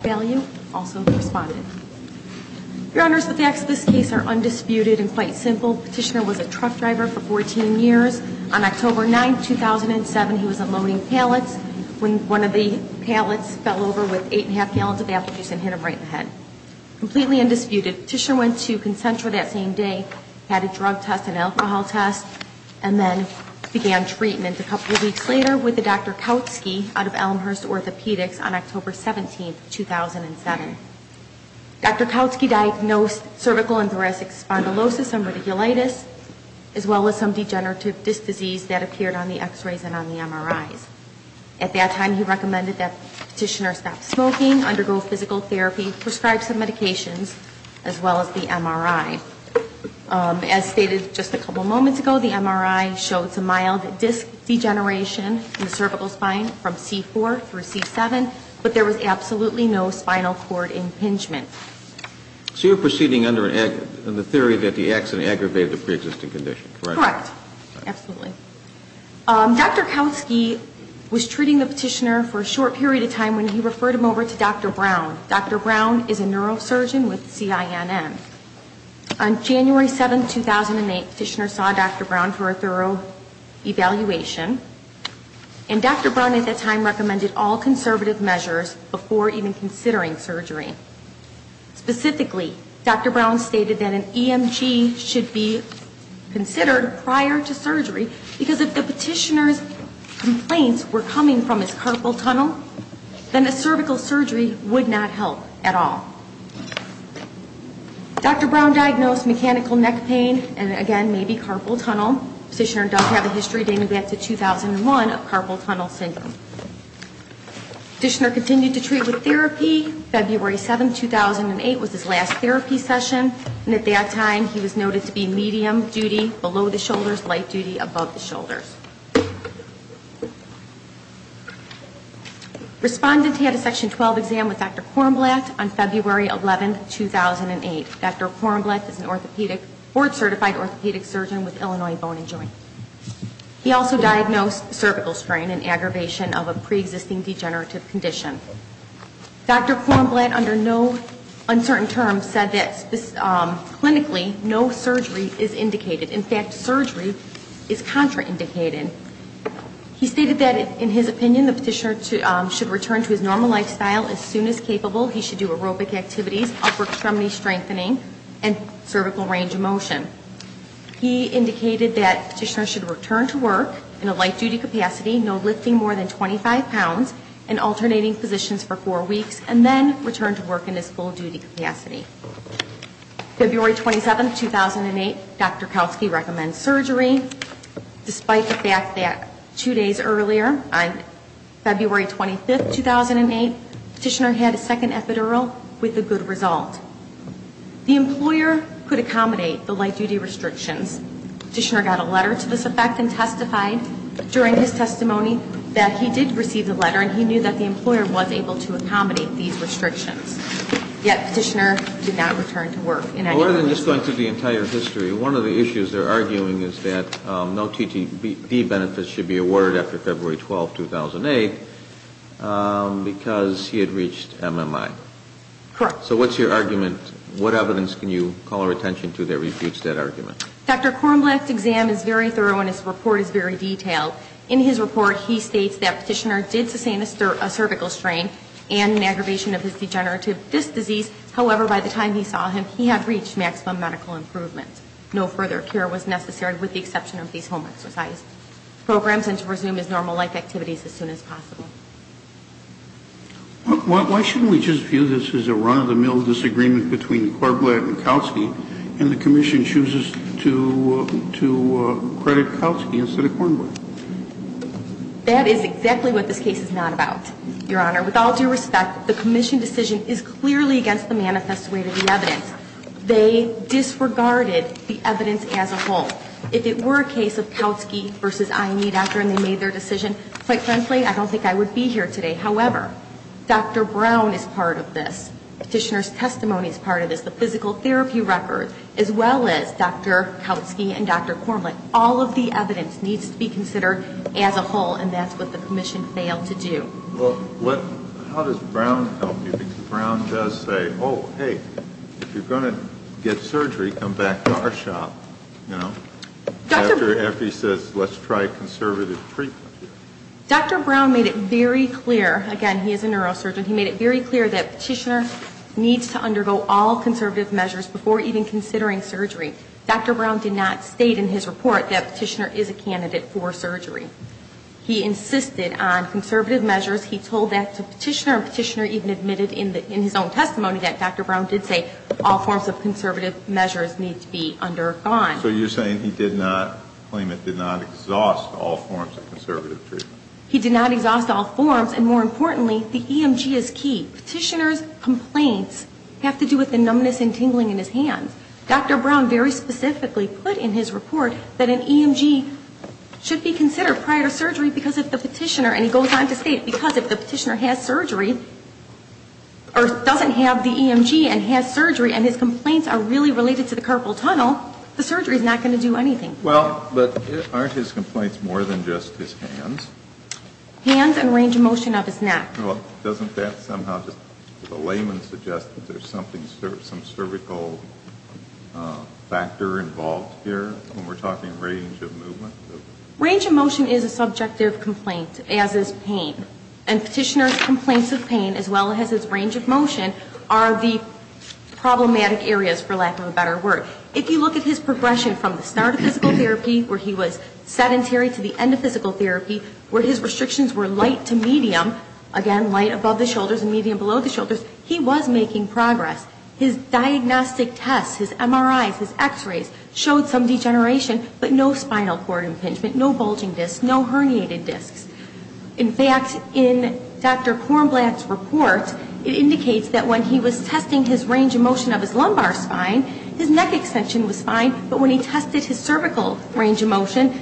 Valu also responded. Your Honors, the facts of this case are undisputed and quite simple. Petitioner was a truck driver for 14 years. On October 9, 2007, he was unloading pallets when one of the pallets fell over with eight and a half gallons of apple juice and hit him right in the head, completely undisputed. Petitioner went to Concentra that same day, had a drug test, an alcohol test, and then began treatment. A couple of weeks later, with the Dr. Kautzke out of Elmhurst Orthopedics on October 17, 2007. Dr. Kautzke diagnosed cervical and thoracic spondylosis and radiculitis, as well as some degenerative disc disease that appeared on the x-rays and on the MRIs. At that time, he recommended that Petitioner stop smoking, undergo physical therapy, prescribe some medications, as well as the MRI. As stated just a couple of moments ago, the MRI showed some mild disc degeneration in the cervical spine from C4 through C7, but there was absolutely no spinal cord impingement. So you're proceeding under the theory that the accident aggravated the pre-existing condition, correct? Correct. Absolutely. Dr. Kautzke was treating the Petitioner for a short period of time when he referred him over to Dr. Brown. Dr. Brown is a neurosurgeon with CINN. On January 7, 2008, Petitioner saw Dr. Brown for a thorough evaluation, and Dr. Brown at that time recommended all conservative measures before even considering surgery. Specifically, Dr. Brown stated that an EMG should be considered prior to surgery, because if the Petitioner's complaints were coming from his carpal tunnel, then a cervical surgery would not help at all. Dr. Brown diagnosed mechanical neck pain, and again, maybe carpal tunnel. Petitioner does have a history dating back to 2001 of carpal tunnel syndrome. Petitioner continued to treat with therapy. February 7, 2008 was his last therapy session, and at that time he was noted to be medium duty below the shoulders, light duty above the shoulders. Respondent, he had a Section 12 exam with Dr. Kornblatt on February 11, 2008. Dr. Kornblatt is an orthopedic, board certified orthopedic surgeon with Illinois Bone & Joint. He also diagnosed cervical strain and aggravation of a pre-existing degenerative condition. Dr. Kornblatt, under no uncertain terms, said that clinically, no surgery is indicated. In fact, surgery is contraindicated. He stated that, in his opinion, the Petitioner should return to his normal lifestyle as soon as capable. He should do aerobic activities, upper extremity strengthening, and cervical range of motion. He indicated that Petitioner should return to work in a light duty capacity, no lifting more than 25 pounds, and alternating positions for four weeks, and then return to work in his full duty capacity. February 27, 2008, Dr. Kalski recommends surgery. Despite the fact that two days earlier, on February 25, 2008, Petitioner had a second epidural with a good result. The employer could accommodate the light duty restrictions. Petitioner got a letter to this effect and testified during his testimony that he did receive the letter and he knew that the employer was able to accommodate these restrictions. Yet, Petitioner did not return to work in any way. Well, rather than just going through the entire history, one of the issues they're arguing is that no TTP benefits should be awarded after February 12, 2008, because he had reached MMI. Correct. So what's your argument? What evidence can you call our attention to that refutes that argument? Dr. Kornblatt's exam is very thorough and his report is very detailed. In his report, he states that Petitioner did sustain a cervical strain and an aggravation of his degenerative disc disease. However, by the time he saw him, he had reached maximum medical improvement. No further care was necessary with the exception of these home exercise programs and to resume his normal life activities as soon as possible. Why shouldn't we just view this as a run-of-the-mill disagreement between Kornblatt and Kalski, and the Commission chooses to credit Kalski instead of Kornblatt? That is exactly what this case is not about, Your Honor. With all due respect, the Commission decision is clearly against the manifest way to the evidence. They disregarded the evidence as a whole. If it were a case of Kalski versus I and E doctor and they made their decision, quite frankly, I don't think I would be here today. However, Dr. Brown is part of this. Petitioner's testimony is part of this. The physical therapy record, as well as Dr. Kalski and Dr. Kornblatt, all of the evidence needs to be considered as a whole, and that's what the Commission failed to do. Well, what, how does Brown help you? Because Brown does say, oh, hey, if you're going to get surgery, come back to our shop, you know, after Effie says, let's try conservative treatment. Dr. Brown made it very clear, again, he is a neurosurgeon, he made it very clear that Petitioner needs to undergo all conservative measures before even considering surgery. Dr. Brown did not state in his report that Petitioner is a candidate for surgery. He insisted on conservative measures. He told that to Petitioner, and Petitioner even admitted in his own testimony that Dr. Brown did say all forms of conservative measures need to be undergone. So you're saying he did not claim it, did not exhaust all forms of conservative treatment? He did not exhaust all forms, and more importantly, the EMG is key. Petitioner's complaints have to do with the numbness and tingling in his hands. Dr. Brown very specifically put in his report that an EMG should be considered prior to surgery because if the Petitioner and he goes on to state, because if the Petitioner has surgery or doesn't have the EMG and has surgery and his complaints are really related to the carpal tunnel, the surgery is not going to do anything. Well, but aren't his complaints more than just his hands? Hands and range of motion of his neck. Well, doesn't that somehow just, does a layman suggest that there's something, some cervical factor involved here when we're talking range of movement? Range of motion is a subjective complaint, as is pain. And Petitioner's complaints of pain, as well as his range of motion, are the problematic areas, for lack of a better word. If you look at his progression from the start of physical therapy, where he was sedentary to the end of physical therapy, where his restrictions were light to medium, again, light above the shoulders and medium below the shoulders, he was making progress. His diagnostic tests, his MRIs, his x-rays showed some degeneration, but no spinal cord impingement, no bulging discs, no herniated discs. In fact, in Dr. Kornblatt's report, it indicates that when he was testing his range of motion of his lumbar spine, his neck extension was fine, but when he tested his cervical range of motion,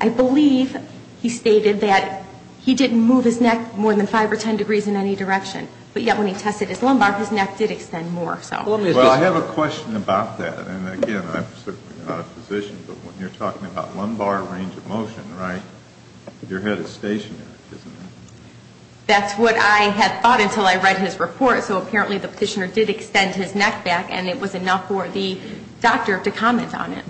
I believe he stated that he didn't move his neck more than 5 or 10 degrees in any direction. But yet, when he tested his lumbar, his neck did extend more, so. Well, I have a question about that. And again, I'm certainly not a physician, but when you're talking about lumbar range of motion, right, your head is stationary, isn't it? That's what I had thought until I read his report. So apparently, the Petitioner did extend his neck back, and it was enough for the doctor to comment on it.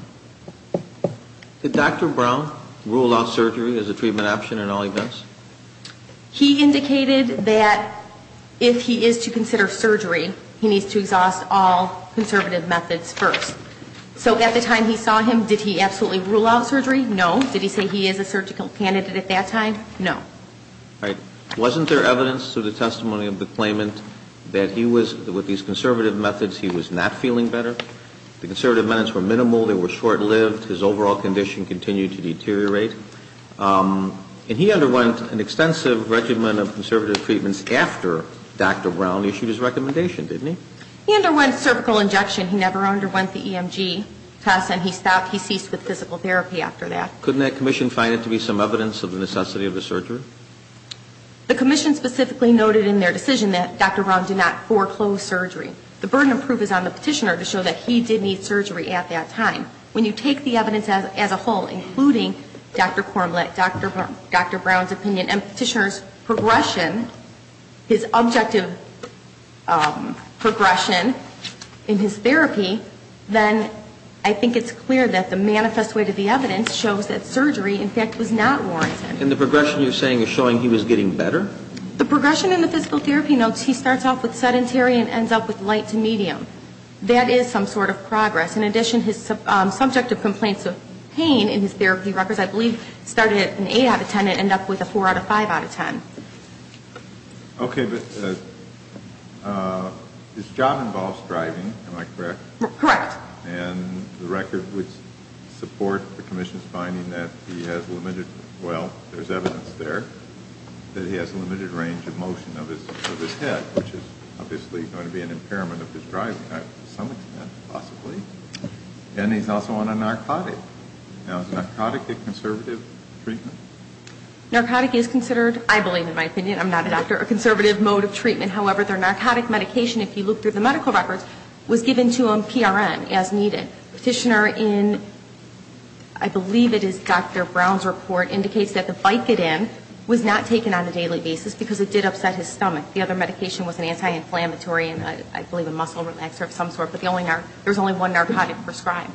Did Dr. Brown rule out surgery as a treatment option in all events? He indicated that if he is to consider surgery, he needs to exhaust all conservative methods first. So at the time he saw him, did he absolutely rule out surgery? No. Did he say he is a surgical candidate at that time? No. All right. Wasn't there evidence through the testimony of the claimant that he was, with these conservative methods, he was not feeling better? The conservative methods were minimal, they were short-lived, his overall condition continued to deteriorate. And he underwent an extensive regimen of conservative treatments after Dr. Brown issued his recommendation, didn't he? He underwent cervical injection. He never underwent the EMG test, and he stopped, he ceased with physical therapy after that. Couldn't that commission find it to be some evidence of the necessity of a surgery? The commission specifically noted in their decision that Dr. Brown did not foreclose surgery. The burden of proof is on the Petitioner to show that he did need surgery at that time. When you take the evidence as a whole, including Dr. Cormlett, Dr. Brown's opinion and Petitioner's progression, his objective progression in his therapy, then I think it's clear that the manifest weight of the evidence shows that surgery, in fact, was not warranted. And the progression you're saying is showing he was getting better? The progression in the physical therapy notes, he starts off with sedentary and ends up with That is some sort of progress. In addition, his subjective complaints of pain in his therapy records, I believe, started at an 8 out of 10 and ended up with a 4 out of 5 out of 10. Okay, but his job involves driving, am I correct? Correct. And the record would support the commission's finding that he has limited, well, there's evidence there, that he has a limited range of motion of his head, which is obviously going to be an impairment of his driving, to some extent, possibly. And he's also on a narcotic. Now, is narcotic a conservative treatment? Narcotic is considered, I believe in my opinion, I'm not a doctor, a conservative mode of treatment. However, their narcotic medication, if you look through the medical records, was given to him PRN, as needed. Petitioner in, I believe it is Dr. Brown's report, indicates that the Vicodin was not taken on a daily basis because it did upset his stomach. The other medication was an anti-inflammatory and I believe a muscle relaxer of some sort, but there was only one narcotic prescribed.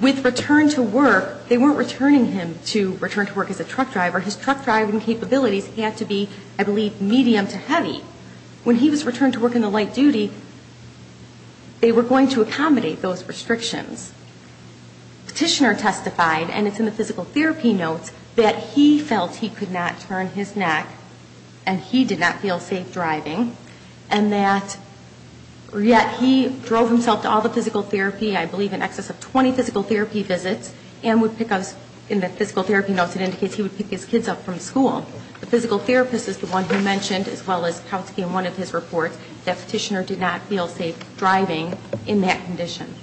With return to work, they weren't returning him to return to work as a truck driver. His truck driving capabilities had to be, I believe, medium to heavy. When he was returned to work in the light duty, they were going to accommodate those restrictions. Petitioner testified, and it's in the physical therapy notes, that he felt he could not turn his neck and he did not feel safe driving, and that he drove himself to all the physical therapy, I believe in excess of 20 physical therapy visits, and would pick up, in the physical therapy notes it indicates he would pick his kids up from school. The physical therapist is the one who mentioned, as well as Kautsky in one of his reports, that Petitioner did not feel safe driving in that condition.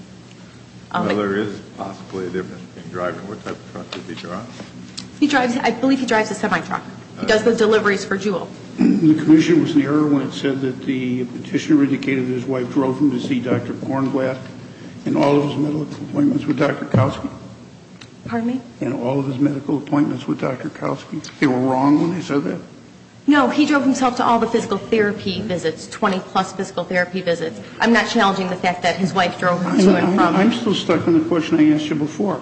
Now, there is possibly a difference in driving. What type of truck does he drive? He drives, I believe he drives a semi-truck. He does the deliveries for Juul. The commission was in error when it said that the Petitioner indicated his wife drove him to see Dr. Kornblatt and all of his medical appointments with Dr. Kautsky? Pardon me? And all of his medical appointments with Dr. Kautsky? They were wrong when they said that? No, he drove himself to all the physical therapy visits, 20 plus physical therapy visits. I'm not challenging the fact that his wife drove him to another province. I'm still stuck on the question I asked you before.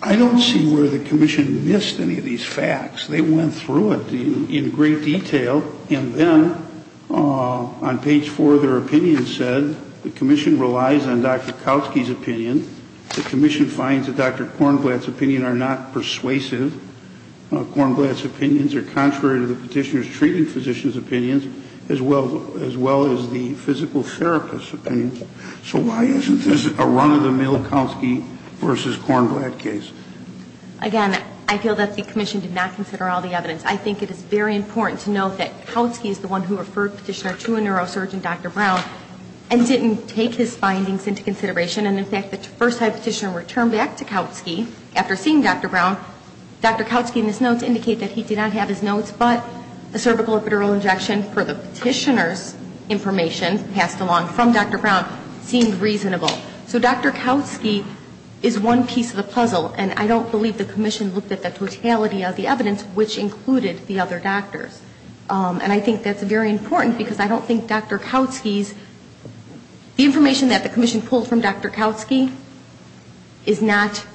I don't see where the commission missed any of these facts. They went through it in great detail, and then on page 4 of their opinion said the commission relies on Dr. Kautsky's opinion. The commission finds that Dr. Kornblatt's opinions are not persuasive. Kornblatt's opinions are contrary to the Petitioner's treating physician's opinions, as well as the physical therapist's opinions. So why isn't this a run-of-the-mill Kautsky versus Kornblatt case? Again, I feel that the commission did not consider all the evidence. I think it is very important to note that Kautsky is the one who referred Petitioner to a neurosurgeon, Dr. Brown, and didn't take his findings into consideration. And in fact, the first time Petitioner returned back to Kautsky after seeing Dr. Brown, Dr. Kautsky in his notes indicate that he did not have his notes, but the cervical epidural injection for the Petitioner's information passed along from Dr. Brown seemed reasonable. So Dr. Kautsky is one piece of the puzzle, and I don't believe the commission looked at the totality of the evidence, which included the other doctors. And I think that's very important, because I don't think Dr. Kautsky's, the information that the commission pulled from Dr. Kautsky is not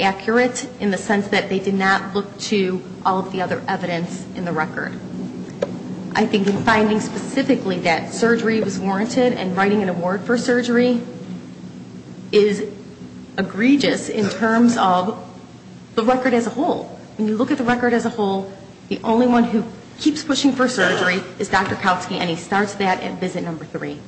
accurate in the sense that they did not look to all of the other evidence in the record. I think in finding specifically that surgery was warranted and writing an award for surgery is egregious in terms of the record as a whole. When you look at the record as a whole, the only one who keeps pushing for surgery is Dr. Kautsky, and he starts that at visit number three.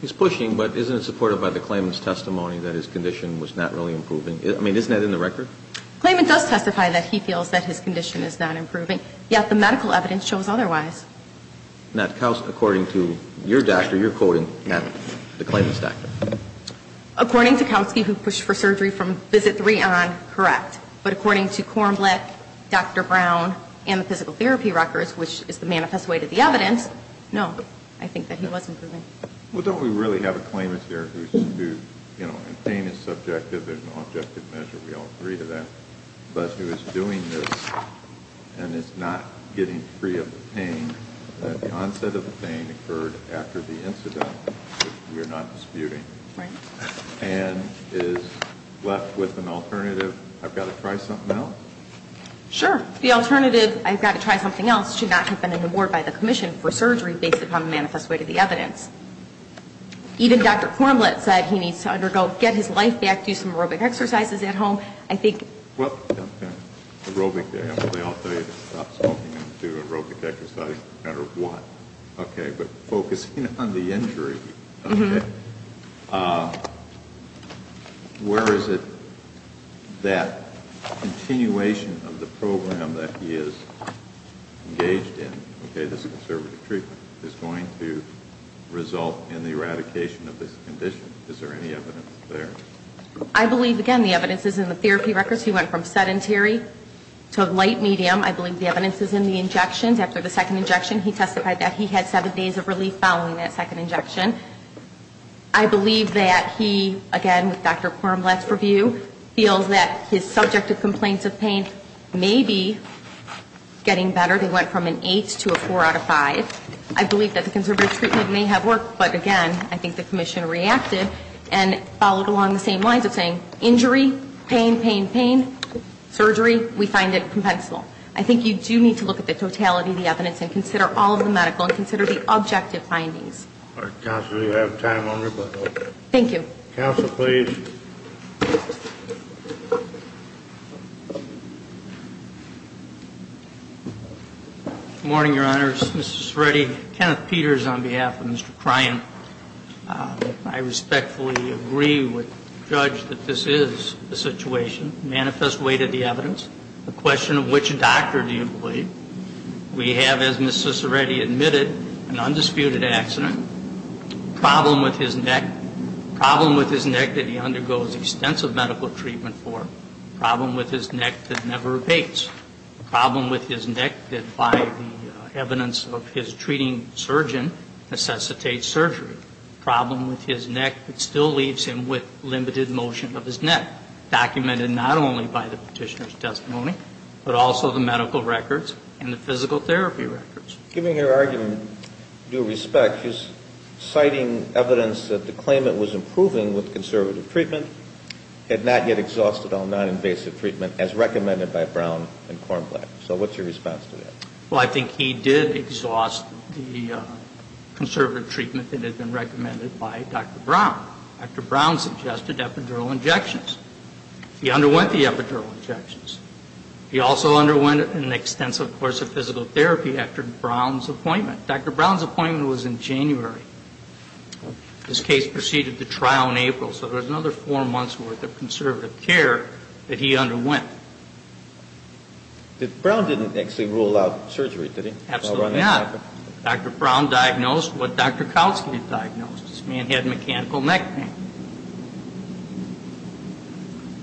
He's pushing, but isn't it supported by the claimant's testimony that his condition was not really improving? I mean, isn't that in the record? The claimant does testify that he feels that his condition is not improving, yet the medical evidence shows otherwise. Now, according to your doctor, you're quoting the claimant's doctor. According to Kautsky, who pushed for surgery from visit three on, correct. But according to Kornblich, Dr. Brown, and the physical therapy records, which is the manifest way to the evidence, no, I think that he was improving. Well, don't we really have a claimant here who, you know, in pain is subjective, there's no objective measure, we all agree to that, but who is doing this and is not getting free of the pain, that the onset of the pain occurred after the incident, which we are not disputing. Right. And is left with an alternative, I've got to try something else? Sure. The alternative, I've got to try something else, should not have been an award by the commission for surgery based upon the manifest way to the evidence. Even Dr. Kornblich said he needs to undergo, get his life back, do some aerobic exercises at home, I think. Well, aerobic day, I'll tell you to stop smoking and do aerobic exercises, no matter what, okay, but focusing on the injury, okay, where is it that continuation of the program that he is engaged in, okay, this conservative treatment is going to result in the eradication of this condition, is there any evidence there? I believe, again, the evidence is in the therapy records, he went from sedentary to light medium, I believe the evidence is in the injections, after the second injection, he testified that he had seven days of relief following that second injection. I believe that he, again, with Dr. Kornblich's review, feels that his subjective I believe that the conservative treatment may have worked, but, again, I think the commission reacted and followed along the same lines of saying, injury, pain, pain, pain, surgery, we find it compensable. I think you do need to look at the totality of the evidence and consider all of the medical and consider the objective findings. All right, counsel, you have time on rebuttal. Thank you. Counsel, please. Good morning, Your Honors. Ms. Ciciretti, Kenneth Peters on behalf of Mr. Kryan. I respectfully agree with the judge that this is the situation, manifest way to the evidence, the question of which doctor do you believe. We have, as Ms. Ciciretti admitted, an undisputed accident, a problem with his neck that never evades, a problem with his neck that by the evidence of his treating surgeon necessitates surgery, a problem with his neck that still leaves him with limited motion of his neck, documented not only by the petitioner's testimony, but also the medical records and the physical therapy records. Given your argument, due respect, is citing evidence that the claimant was improving with conservative treatment, had not yet exhausted all noninvasive treatment as recommended by Brown and Kornblack. So what's your response to that? Well, I think he did exhaust the conservative treatment that had been recommended by Dr. Brown. Dr. Brown suggested epidural injections. He underwent the epidural injections. He also underwent an extensive course of physical therapy after Brown's appointment. Dr. Brown's appointment was in January. His case proceeded to trial in April. So there was another four months' worth of conservative care that he underwent. But Brown didn't actually rule out surgery, did he? Absolutely not. Dr. Brown diagnosed what Dr. Kalski diagnosed. This man had mechanical neck pain.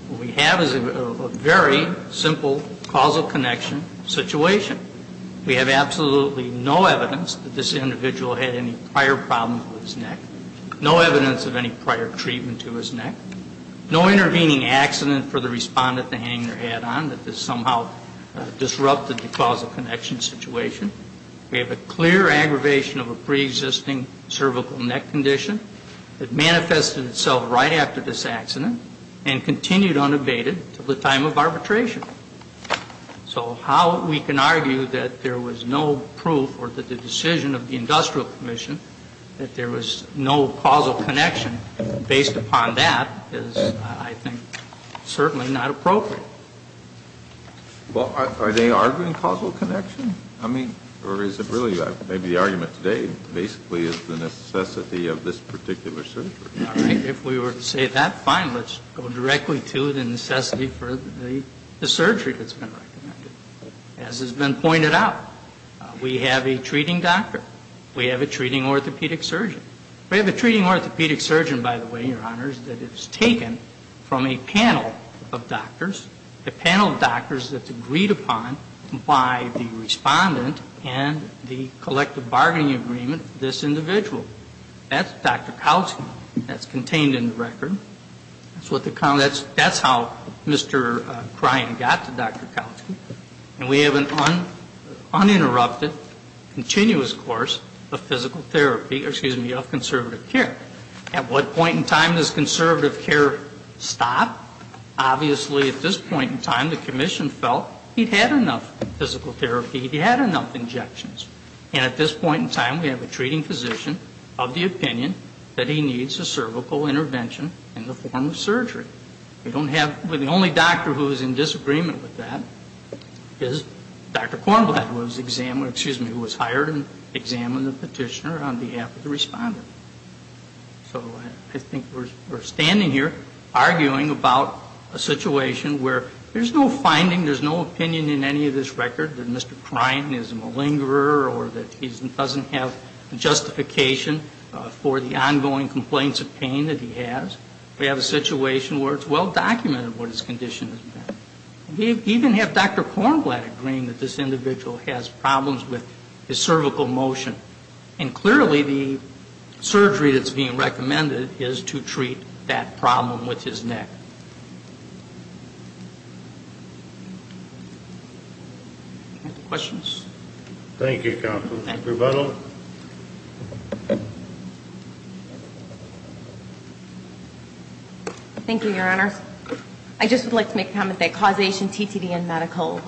What we have is a very simple causal connection situation. We have absolutely no evidence that this individual had any prior problems with his neck, no evidence of any prior treatment to his neck, no intervening accident for the respondent to hang their head on, that this somehow disrupted the causal connection situation. We have a clear aggravation of a preexisting cervical neck condition that manifested itself right after this accident and continued unabated to the time of arbitration. So how we can argue that there was no proof or that the decision of the Industrial Commission that there was no causal connection based upon that is, I think, certainly not appropriate. Well, are they arguing causal connection? I mean, or is it really maybe the argument today basically is the necessity of this particular surgery? All right. If we were to say that, fine. Let's go directly to the necessity for the surgery that's been recommended. As has been pointed out, we have a treating doctor. We have a treating orthopedic surgeon. We have a treating orthopedic surgeon, by the way, Your Honors, that is taken from a panel of doctors, a panel of doctors that's agreed upon by the respondent and the collective bargaining agreement for this individual. That's Dr. Kowski. That's contained in the record. That's how Mr. Kryan got to Dr. Kowski. And we have an uninterrupted, continuous course of physical therapy, excuse me, of conservative care. At what point in time does conservative care stop? Obviously, at this point in time, the Commission felt he'd had enough physical therapy, he'd had enough injections. And at this point in time, we have a treating physician of the opinion that he needs a surgery. We don't have, the only doctor who is in disagreement with that is Dr. Kornblatt, who was examined, excuse me, who was hired and examined the petitioner on behalf of the respondent. So I think we're standing here arguing about a situation where there's no finding, there's no opinion in any of this record that Mr. Kryan is a malingerer or that he doesn't have justification for the ongoing complaints of pain that he has. We have a situation where it's well documented what his condition has been. We even have Dr. Kornblatt agreeing that this individual has problems with his cervical motion. And clearly the surgery that's being recommended is to treat that problem with his neck. Questions? Thank you, Counsel. Rebuttal? Thank you, Your Honors. I just would like to make a comment that causation, TTD and medical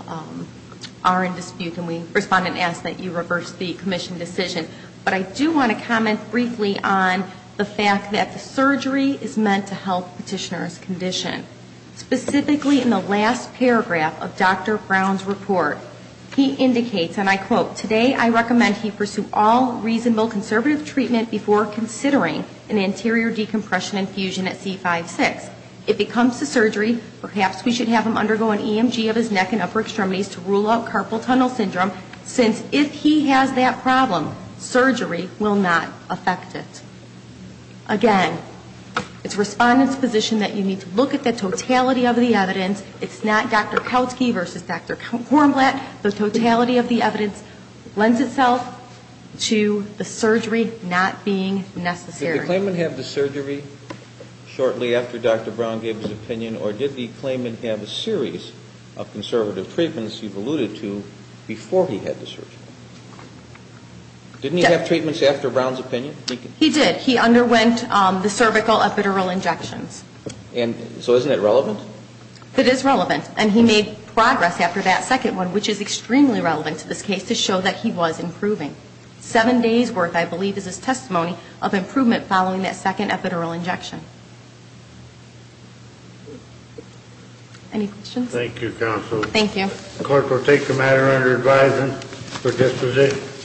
are in dispute. And we respond and ask that you reverse the Commission decision. But I do want to comment briefly on the fact that the surgery is meant to help petitioner's condition. Specifically in the last paragraph of Dr. Brown's report, he indicates, and I quote, today I recommend he pursue all reasonable conservative treatment before considering an anterior decompression infusion at C5-6. If it comes to surgery, perhaps we should have him undergo an EMG of his neck and upper extremities to rule out carpal tunnel syndrome, since if he has that problem, surgery will not affect it. Again, it's Respondent's position that you need to look at the totality of the evidence. It's not Dr. Kautsky versus Dr. Kornblatt. The totality of the evidence lends itself to the surgery not being necessary. Did the claimant have the surgery shortly after Dr. Brown gave his opinion? Or did the claimant have a series of conservative treatments you've alluded to before he had the surgery? Didn't he have treatments after Brown's opinion? He did. He underwent the cervical epidural injections. And so isn't that relevant? It is relevant. And he made progress after that second one, which is extremely relevant to this case, to show that he was improving. Seven days' worth, I believe, is his testimony of improvement following that second epidural injection. Any questions? Thank you, counsel. Thank you. The court will take the matter under advisement for disposition.